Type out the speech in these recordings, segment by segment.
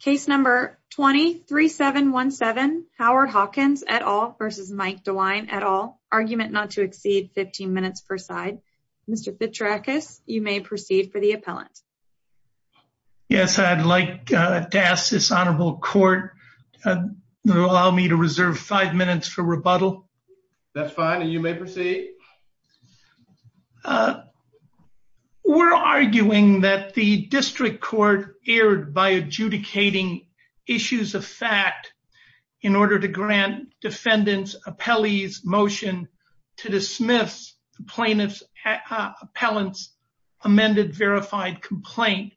Case number 23717 Howard Hawkins et al. versus Mike DeWine et al. Argument not to exceed 15 minutes per side. Mr. Fitcherakis, you may proceed for the appellant. Yes, I'd like to ask this honorable court to allow me to reserve five minutes for rebuttal. That's fine and you may proceed. We're arguing that the district court erred by adjudicating issues of fact in order to grant defendants' appellees' motion to dismiss plaintiff's appellant's amended verified complaint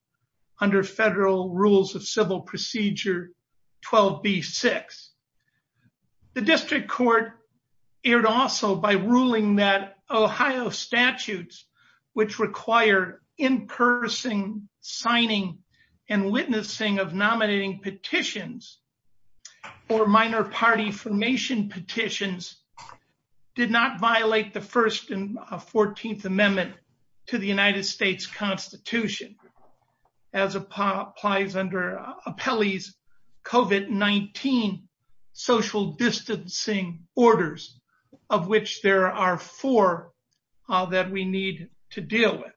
under federal rules of civil procedure 12b-6. The district court erred also by ruling that Ohio statutes which require in-person signing and witnessing of nominating petitions or minor party formation petitions did not violate the first and 14th amendment to the United States Constitution as applies under appellee's COVID-19 social distancing orders of which there are four that we need to deal with.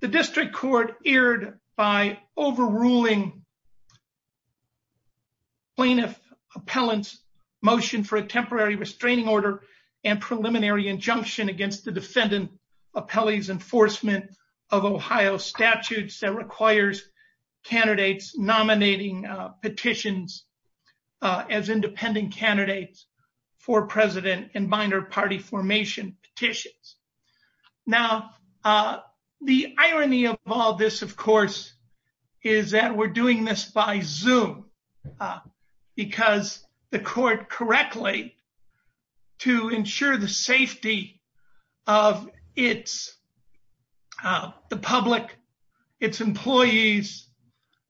The district court erred by overruling plaintiff appellant's motion for a temporary restraining order and preliminary injunction against the defendant appellee's enforcement of Ohio statutes that requires candidates nominating petitions as independent candidates for president and minor party formation petitions. Now the irony of all this of course is that we're doing this by Zoom uh because the court correctly to ensure the safety of its uh the public its employees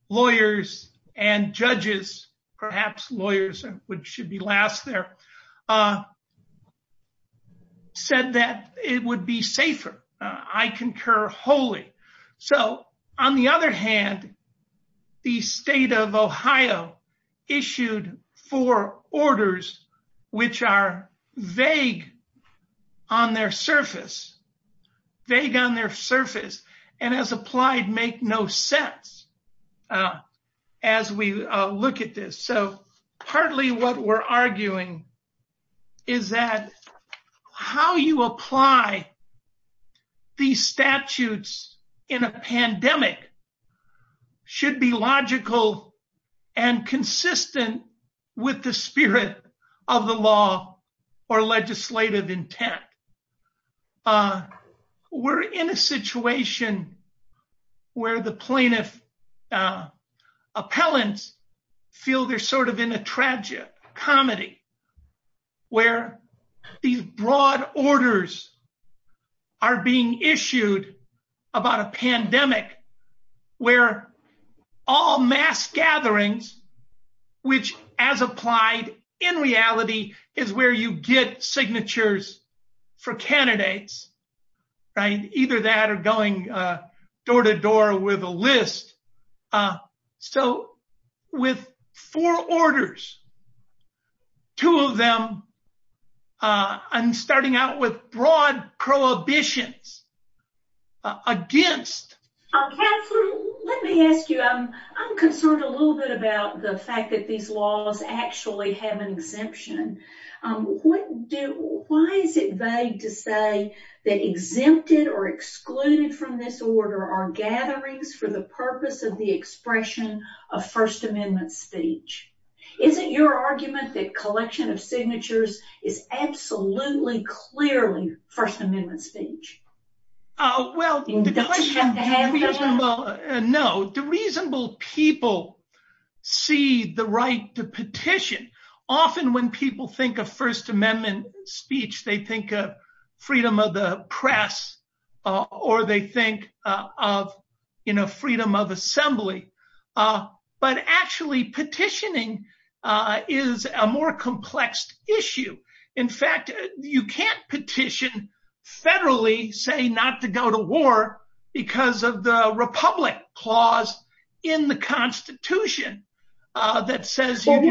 lawyers and judges perhaps lawyers which should be last there uh said that it would be safer. I concur wholly. So on the other hand the state of Ohio issued four orders which are vague on their surface vague on their surface and as applied make no sense as we look at this. So partly what we're arguing is that how you apply these statutes in a pandemic should be logical and consistent with the spirit of the law or legislative intent. We're in a situation where the plaintiff appellants feel they're sort of in a tragic comedy where these broad orders are being issued about a pandemic where all mass gatherings which as applied in reality is where you get signatures for candidates right either that or going uh door to door with a list uh so with four orders two of them uh and starting out with broad prohibitions against. Uh Catherine let me ask you um I'm concerned a little bit about the fact that these laws actually have an exemption um what do why is it vague to say that exempted or excluded from this your argument that collection of signatures is absolutely clearly first amendment speech? Uh well the question well no the reasonable people see the right to petition often when people think of first amendment speech they think of freedom of the press or they think of you know freedom of assembly uh but actually petitioning uh is a more complex issue in fact you can't petition federally say not to go to war because of the republic clause in the constitution uh that says what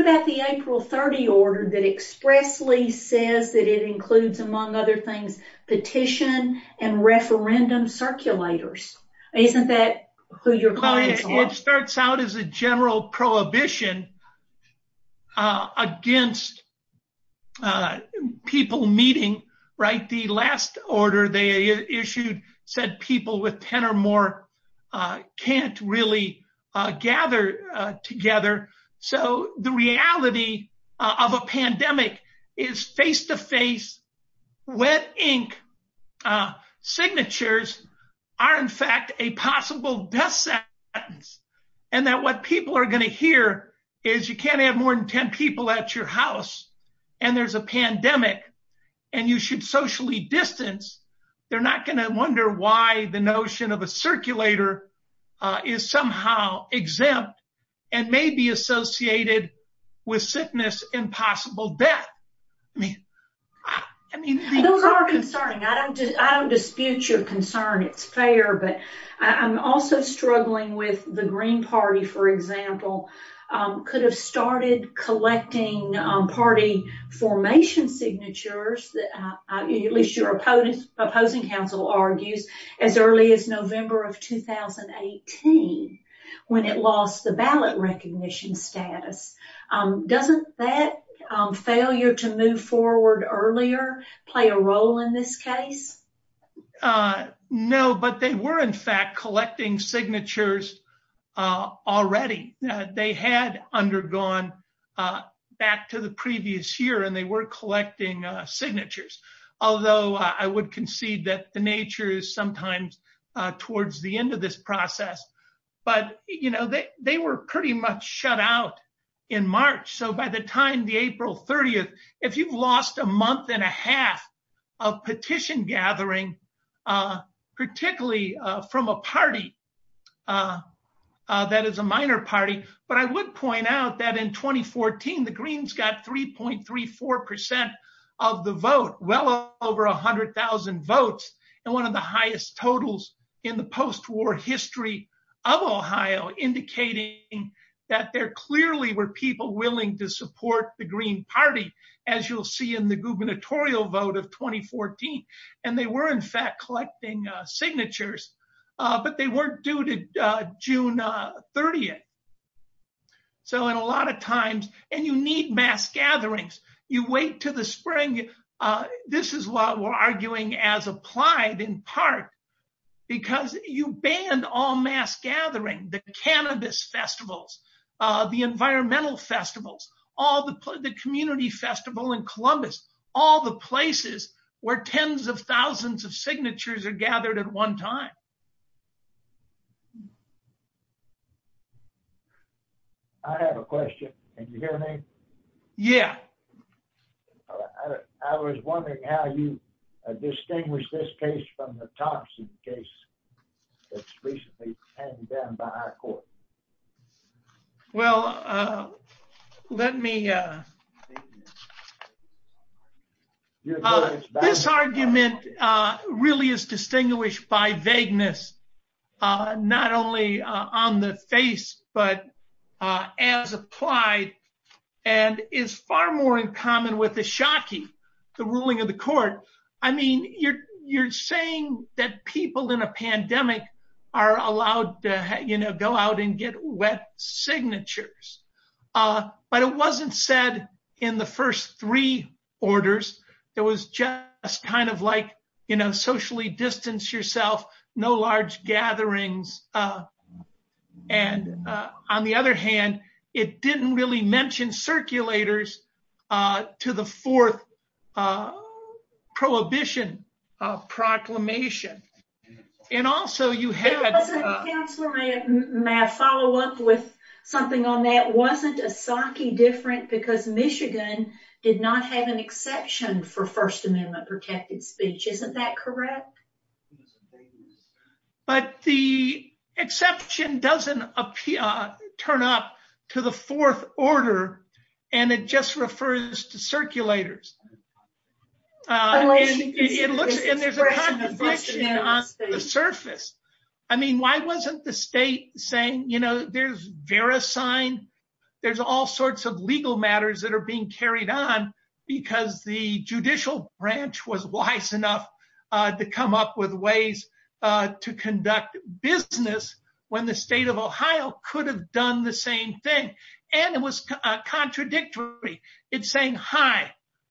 about the april 30 order that expressly says that it includes among other things petition and referendum circulators isn't that who you're calling it starts out as a general prohibition uh against uh people meeting right the last order they issued said people with 10 or more can't really uh gather uh together so the reality of a pandemic is face-to-face wet ink uh signatures are in fact a possible death sentence and that what people are going to hear is you can't have more than 10 people at your house and there's a pandemic and you should distance they're not going to wonder why the notion of a circulator uh is somehow exempt and may be associated with sickness and possible death i mean i mean those are concerning i don't just i don't dispute your concern it's fair but i'm also struggling with the green party for example um could have started collecting party formation signatures that at least your opponent opposing council argues as early as november of 2018 when it lost the ballot recognition status um doesn't that failure to move forward earlier play a role in this case uh no but they were in fact collecting signatures uh already they had undergone uh back to the previous year and they were collecting uh signatures although i would concede that the nature is sometimes uh towards the end of this process but you know they were pretty much shut out in march so by the time the april 30th if you've lost a month and a half of petition gathering uh particularly uh from a party uh uh that is a minor party but i would point out that in 2014 the greens got 3.34 percent of the vote well over a hundred thousand votes and one of the highest totals in the post-war history of ohio indicating that there clearly were people willing to support the green party as you'll see in the gubernatorial vote of 2014 and they were in fact collecting uh signatures uh but they weren't due to uh june uh 30th so in a lot of times and you need mass gatherings you wait to the spring uh this is what we're arguing as applied in part because you ban all mass gathering the cannabis festivals uh the environmental festivals all the community festival in columbus all the places where tens of thousands of signatures are gathered at one time i have a question can you hear me yeah i was wondering how you distinguish this case from the toxin case that's recently handed down by our court well uh let me uh this argument uh really is distinguished by vagueness uh not only uh on the face but uh as applied and is far more in common with the shockie the ruling of the court i mean you're you're saying that people in a pandemic are allowed to you know go out and get wet signatures uh but it wasn't said in the first three orders it was just kind of like you know socially distance yourself no large gatherings uh and uh on the other hand it didn't really mention circulators uh to the fourth uh prohibition uh proclamation and also you had a counselor may may i follow up with something on that wasn't a sake different because michigan did not have exception for first amendment protected speech isn't that correct but the exception doesn't appear turn up to the fourth order and it just refers to circulators it looks and there's a contradiction on the surface i mean why wasn't the state saying you know there's vera sign there's all sorts of legal matters that are being carried on because the judicial branch was wise enough uh to come up with ways uh to conduct business when the state of ohio could have done the same thing and it was contradictory it's saying hi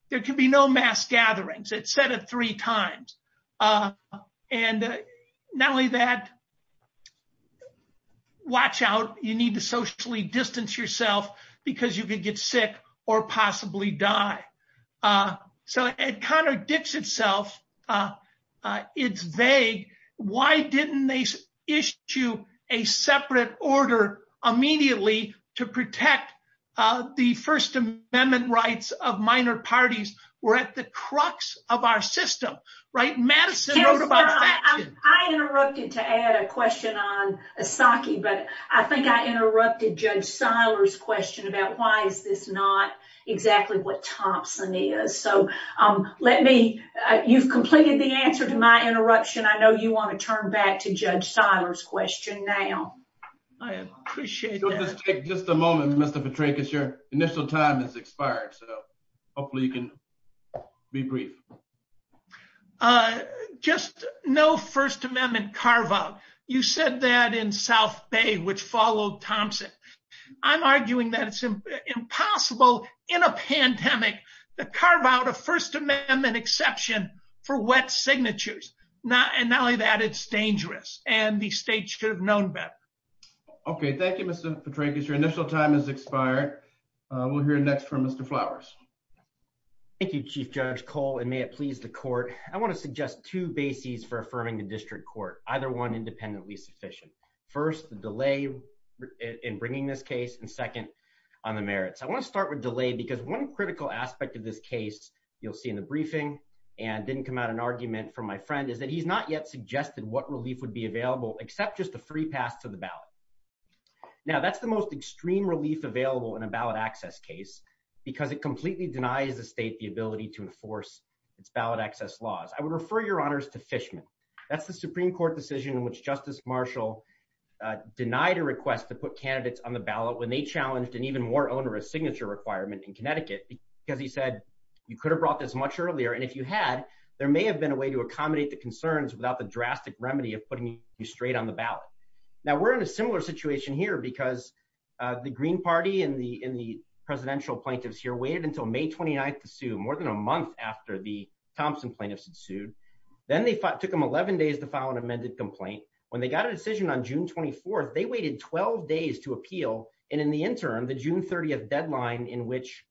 there can be no mass gatherings it said it three times uh and not only that uh watch out you need to socially distance yourself because you could get sick or possibly die uh so it contradicts itself uh it's vague why didn't they issue a separate order immediately to protect uh the first amendment rights of minor parties were at the crux of our system right madison wrote about that i interrupted to add a question on a sake but i think i interrupted judge seiler's question about why is this not exactly what thompson is so um let me uh you've completed the answer to my interruption i know you want to turn back to judge seiler's question now i appreciate it let's take just a moment mr initial time has expired so hopefully you can be brief uh just no first amendment carve out you said that in south bay which followed thompson i'm arguing that it's impossible in a pandemic to carve out a first amendment exception for wet signatures not and not only that it's dangerous and the state should have known better okay thank you mr petrankis your initial time has expired we'll hear next from mr flowers thank you chief judge cole and may it please the court i want to suggest two bases for affirming the district court either one independently sufficient first the delay in bringing this case and second on the merits i want to start with delay because one critical aspect of this case you'll see in the briefing and didn't come out an argument from my friend is that he's not yet suggested what relief would be available except just a free pass to the ballot now that's the most extreme relief available in a ballot access case because it completely denies the state the ability to enforce its ballot access laws i would refer your honors to fishman that's the supreme court decision in which justice marshall uh denied a request to put candidates on the ballot when they challenged an even more onerous signature requirement in connecticut because he said you could have brought this much earlier and if you had there may have been a way to accommodate the concerns without the drastic remedy of putting you straight on the ballot now we're in a similar situation here because uh the green party and the in the presidential plaintiffs here waited until may 29th to sue more than a month after the thompson plaintiffs had sued then they took them 11 days to file an amended complaint when they got a decision on june 24th they waited 12 days to appeal and in the interim the june 30th deadline in which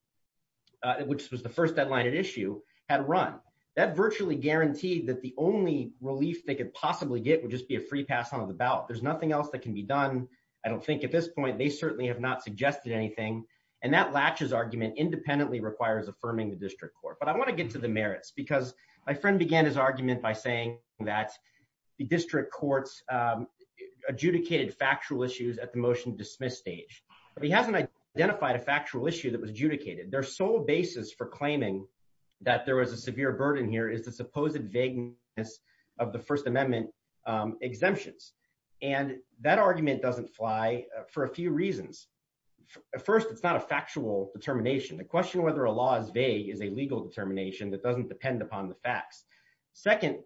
which was the first deadline at issue had run that virtually guaranteed that the only relief they could possibly get would just be a free pass out of the ballot there's nothing else that can be done i don't think at this point they certainly have not suggested anything and that latches argument independently requires affirming the district court but i want to get to the merits because my friend began his argument by saying that the district courts um adjudicated factual issues at the motion dismiss stage but he hasn't identified a factual issue that was adjudicated their sole basis for claiming that there was a severe burden here is the supposed vagueness of the first amendment um exemptions and that argument doesn't fly for a few reasons first it's not a factual determination the question whether a law is vague is a legal determination that doesn't depend upon the facts second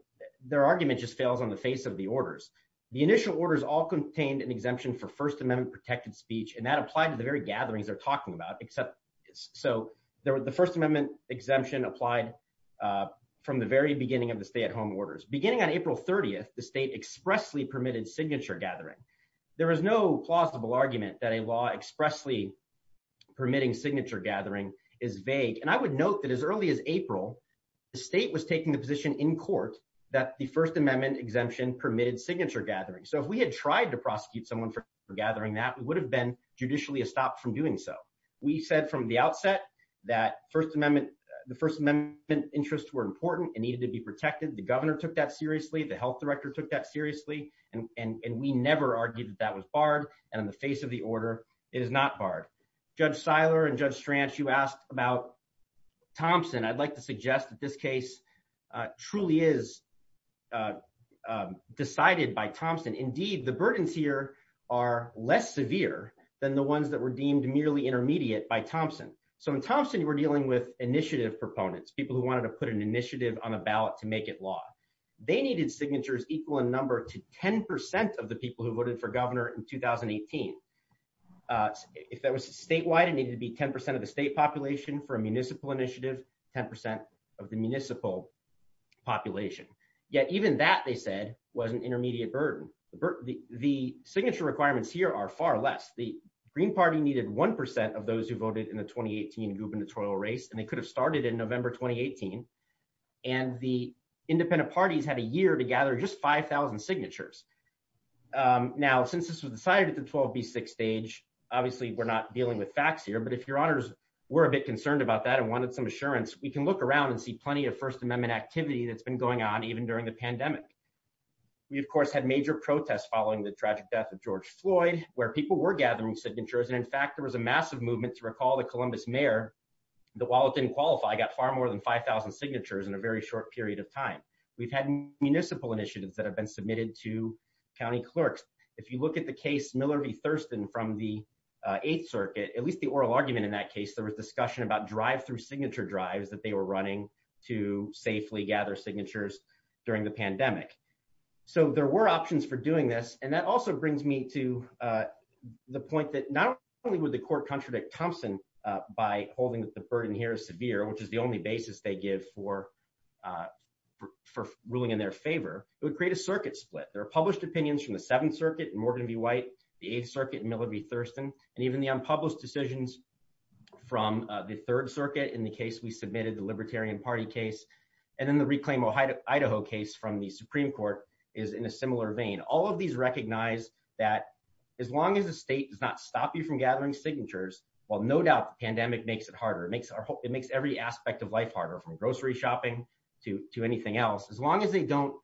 their argument just fails on the face of the orders the initial orders all contained an exemption for first amendment protected speech and that applied to the very gatherings they're talking about except so there were the first amendment exemption applied uh from the very beginning of the stay at home orders beginning on april 30th the state expressly permitted signature gathering there is no plausible argument that a law expressly permitting signature gathering is vague and i would note that as early as april the state was taking the position in court that the first amendment exemption permitted signature gathering so if we had tried to prosecute someone for gathering that we would have been judicially stopped from doing so we said from the outset that first amendment the first amendment interests were important it needed to be protected the governor took that seriously the health director took that seriously and and and we never argued that was barred and on the face of the order it is not barred judge siler and judge stranch you asked about thompson i'd like to the burdens here are less severe than the ones that were deemed merely intermediate by thompson so in thompson we're dealing with initiative proponents people who wanted to put an initiative on a ballot to make it law they needed signatures equal in number to 10 of the people who voted for governor in 2018 uh if that was statewide it needed to be 10 of the state population for a municipal initiative 10 of the municipal population yet even that they said was an the signature requirements here are far less the green party needed one percent of those who voted in the 2018 gubernatorial race and they could have started in november 2018 and the independent parties had a year to gather just 5 000 signatures um now since this was decided at the 12b6 stage obviously we're not dealing with facts here but if your honors were a bit concerned about that and wanted some assurance we can look around and see plenty of first amendment activity that's been going on even during the pandemic we of course had major protests following the tragic death of george floyd where people were gathering signatures and in fact there was a massive movement to recall the columbus mayor that while it didn't qualify i got far more than 5 000 signatures in a very short period of time we've had municipal initiatives that have been submitted to county clerks if you look at the case miller v thurston from the eighth circuit at least the oral argument in that case there was discussion about drive-through signature drives that they were running to safely gather signatures during the pandemic so there were options for doing this and that also brings me to uh the point that not only would the court contradict thompson uh by holding that the burden here is severe which is the only basis they give for uh for ruling in their favor it would create a circuit split there are published opinions from the seventh circuit morgan v white the eighth circuit miller v thurston and even the unpublished decisions from the third circuit in the case we submitted the libertarian party case and then the reclaim ohio idaho case from the supreme court is in a similar vein all of these recognize that as long as the state does not stop you from gathering signatures while no doubt the pandemic makes it harder it makes it makes every aspect of life harder from grocery shopping to to anything else as long as they don't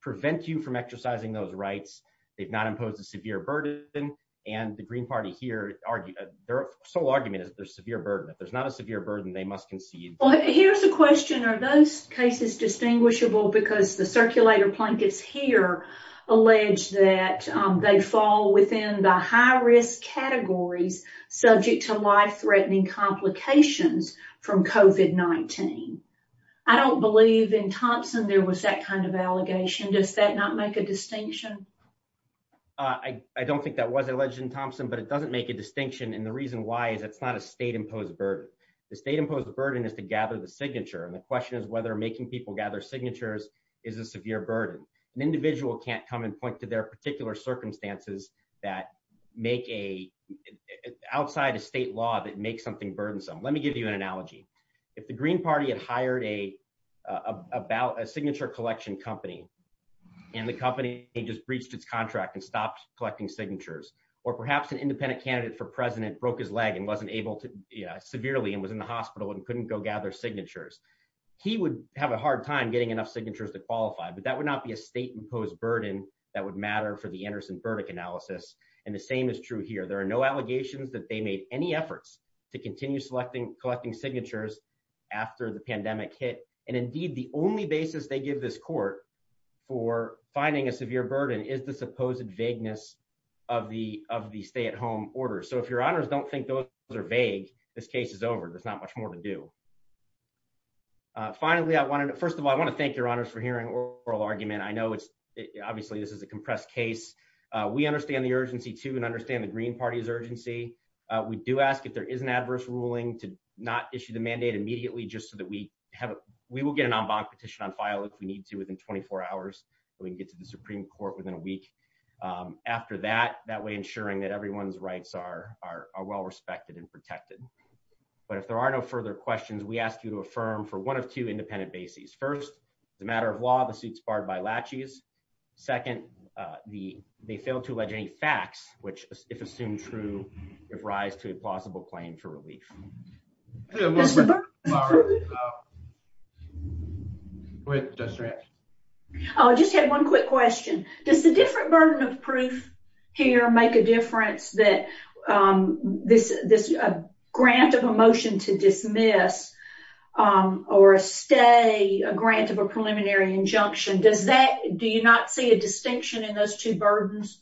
prevent you from exercising those rights they've not imposed a severe burden and the green party here argue their sole argument is there's severe burden if there's not a severe burden they must concede well here's a question are those cases distinguishable because the circulator blankets here allege that they fall within the high risk categories subject to life-threatening complications from covet 19 i don't believe in thompson there was that kind of allegation does that not make a distinction i don't think that was alleged in thompson but it doesn't make a distinction and the reason why is it's not a state imposed burden the state imposed the burden is to gather the signature and the question is whether making people gather signatures is a severe burden an individual can't come and point to their particular circumstances that make a outside a state law that makes something burdensome let me give you an analogy if the green party had hired a about a signature collection company and the company just breached its contract and stopped collecting signatures or perhaps an independent candidate for president broke his leg and wasn't able to yeah severely and was in the hospital and couldn't go gather signatures he would have a hard time getting enough signatures to qualify but that would not be a state imposed burden that would matter for the anderson verdict analysis and the same is true here there are no allegations that they made any efforts to continue selecting collecting signatures after the pandemic hit and indeed the only basis they give this court for finding a severe burden is the supposed vagueness of the of the stay-at-home order so if your honors don't think those are vague this case is over there's not much more to do uh finally i wanted first of all i want to thank your honors for hearing oral argument i know it's obviously this is a compressed case uh we understand the urgency too and understand the green party's urgency uh we do ask if there is an adverse ruling to not issue the mandate immediately just so that we have we will get an en banc petition on file if we need to within 24 hours so we can get to the supreme court within a week um after that that way ensuring that everyone's rights are are well respected and protected but if there are no further questions we ask you to affirm for one of two independent bases first the matter of law the suits barred by latches second uh the they failed to allege any facts which if assumed true give rise to a plausible claim for relief oh i just had one quick question does the different burden of proof here make a difference that um this this grant of a motion to dismiss um or a stay a grant of a preliminary injunction does that do you not see a distinction in those two burdens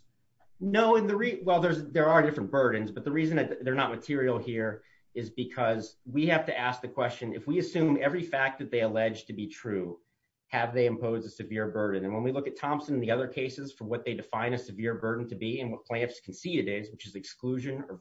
no in the well there's there are different burdens but the reason that they're not material here is because we have to ask the question if we assume every fact that they allege to be true have they impose a severe burden and when we look at thompson in the other cases from what they define a severe burden to be and what plaintiffs can see it is which is exclusion or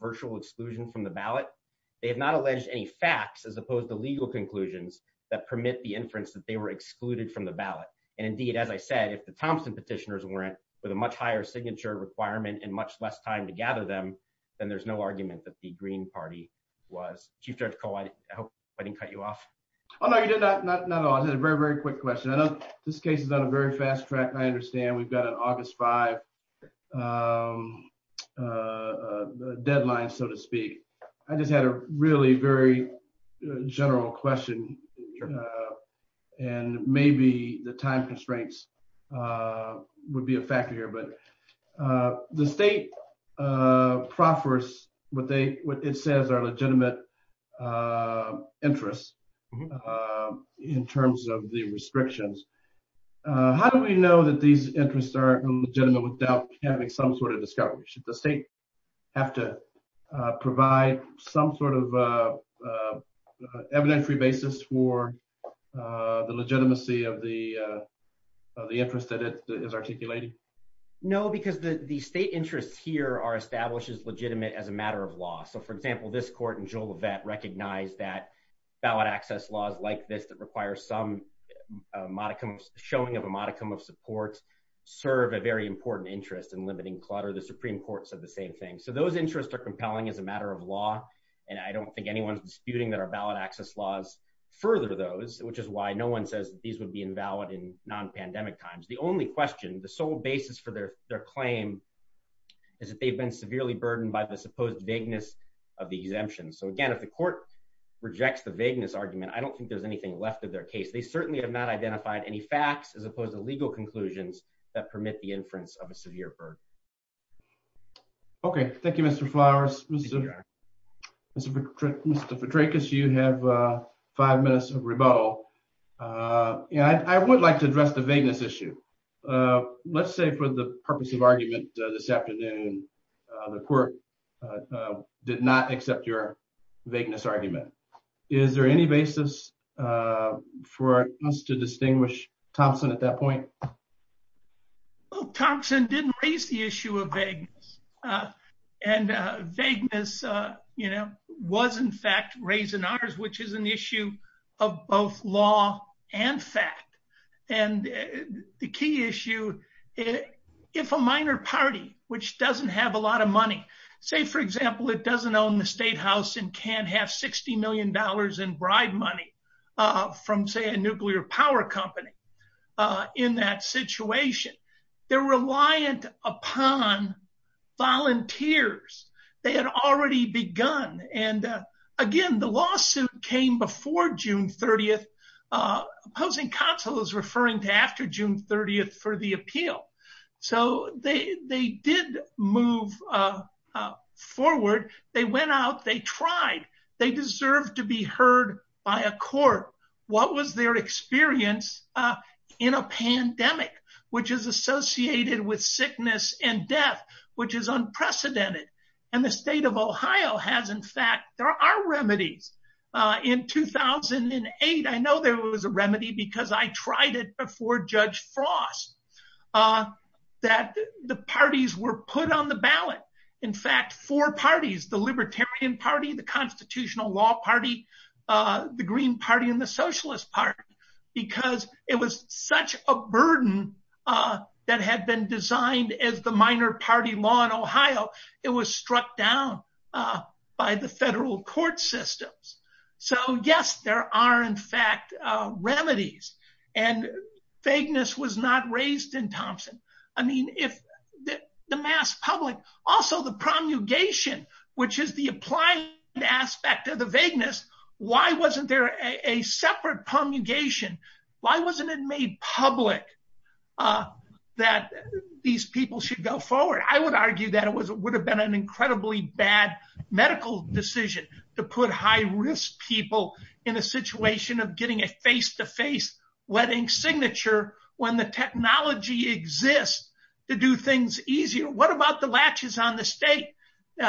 the legal conclusions that permit the inference that they were excluded from the ballot and indeed as i said if the thompson petitioners weren't with a much higher signature requirement and much less time to gather them then there's no argument that the green party was chief judge call i hope i didn't cut you off oh no you did not not at all it's a very very quick question i know this case is on a very fast track i understand we've got an august 5 um uh deadline so to speak i just had a really very general question and maybe the time constraints uh would be a factor here but uh the state uh proffers what they what it says are legitimate uh interests in terms of the restrictions uh how do we know that these interests are legitimate without having some sort of discovery should the state have to provide some sort of uh evidentiary basis for uh the legitimacy of the uh of the interest that it is articulating no because the the state interests here are established as legitimate as a matter of law so for example this court and joel event recognize that ballot access laws like this that require some modicum showing of a modicum of support serve a very important interest in limiting clutter the supreme court said the same thing so those interests are compelling as a matter of law and i don't think anyone's disputing that our ballot access laws further those which is why no one says that these would be invalid in non-pandemic times the only question the sole basis for their their claim is that they've been severely burdened by the supposed vagueness of the exemption so again if the court rejects the vagueness argument i don't think there's a case they certainly have not identified any facts as opposed to legal conclusions that permit the inference of a severe burden okay thank you mr flowers mr vitrecus you have uh five minutes of rebuttal uh yeah i would like to address the vagueness issue uh let's say for the purpose of argument this afternoon the court uh did not accept your vagueness argument is there any basis uh for us to distinguish thompson at that point well thompson didn't raise the issue of vagueness uh and uh vagueness uh you know was in fact raised in ours which is an issue of both law and fact and the key issue if a minor party which doesn't have a lot of money say for example it doesn't own the state house and can't have 60 million dollars in bribe money uh from say a nuclear power company uh in that situation they're reliant upon volunteers they had already begun and uh again the lawsuit came before june 30th uh opposing counsel is referring to after june 30th for the deserve to be heard by a court what was their experience uh in a pandemic which is associated with sickness and death which is unprecedented and the state of ohio has in fact there are remedies uh in 2008 i know there was a remedy because i tried it before judge frost uh that the parties were put on the ballot in fact four parties the libertarian party the constitutional law party uh the green party and the socialist party because it was such a burden uh that had been designed as the minor party law in ohio it was struck down uh by the federal court systems so yes there are in i mean if the mass public also the promulgation which is the applying aspect of the vagueness why wasn't there a separate promulgation why wasn't it made public uh that these people should go forward i would argue that it was it would have been an incredibly bad medical decision to put high risk people in a situation of getting a face-to-face wedding signature when the technology exists to do things easier what about the latches on the state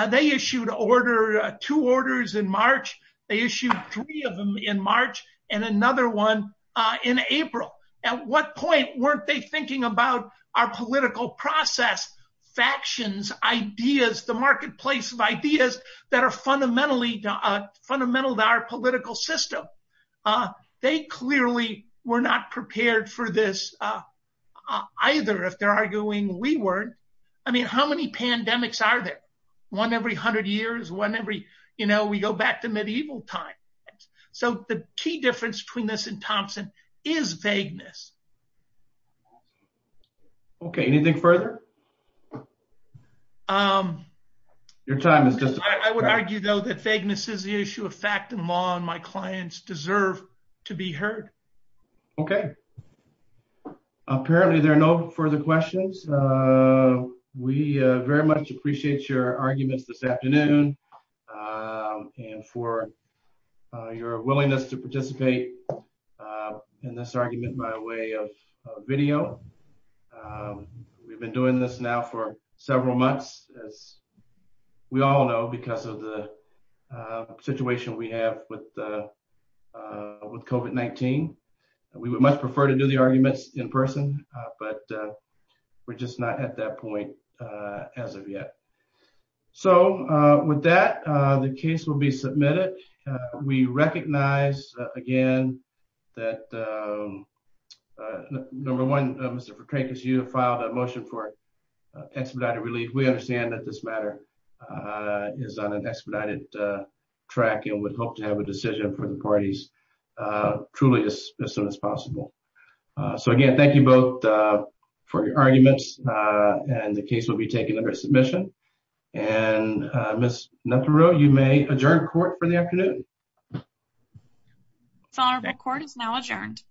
they issued order two orders in march they issued three of them in march and another one uh in april at what point weren't they thinking about our political process factions ideas the marketplace of ideas that are fundamentally uh fundamental to our political system uh they clearly were not prepared for this either if they're arguing we weren't i mean how many pandemics are there one every hundred years whenever you know we go back to medieval times so the key difference between this and thompson is vagueness okay anything further um your time is just i would argue though that vagueness is the issue of fact and law and my clients deserve to be heard okay apparently there are no further questions uh we uh very much appreciate your arguments this afternoon uh and for your willingness to participate uh in this argument by way of video um we've been doing this now for several months as we all know because of the situation we have with uh with covet 19 we would much prefer to do the arguments in person but we're just not at that point uh as of yet so uh with that uh the case will be submitted we recognize again that um uh number one mr fratricus you have filed a motion for expedited relief we understand that this matter uh is on an expedited uh track and would hope to have a decision for the parties uh truly as soon as possible uh so again thank you both uh for your arguments uh and the case will be taken under submission and uh miss netero you may adjourn for the afternoon it's on record is now adjourned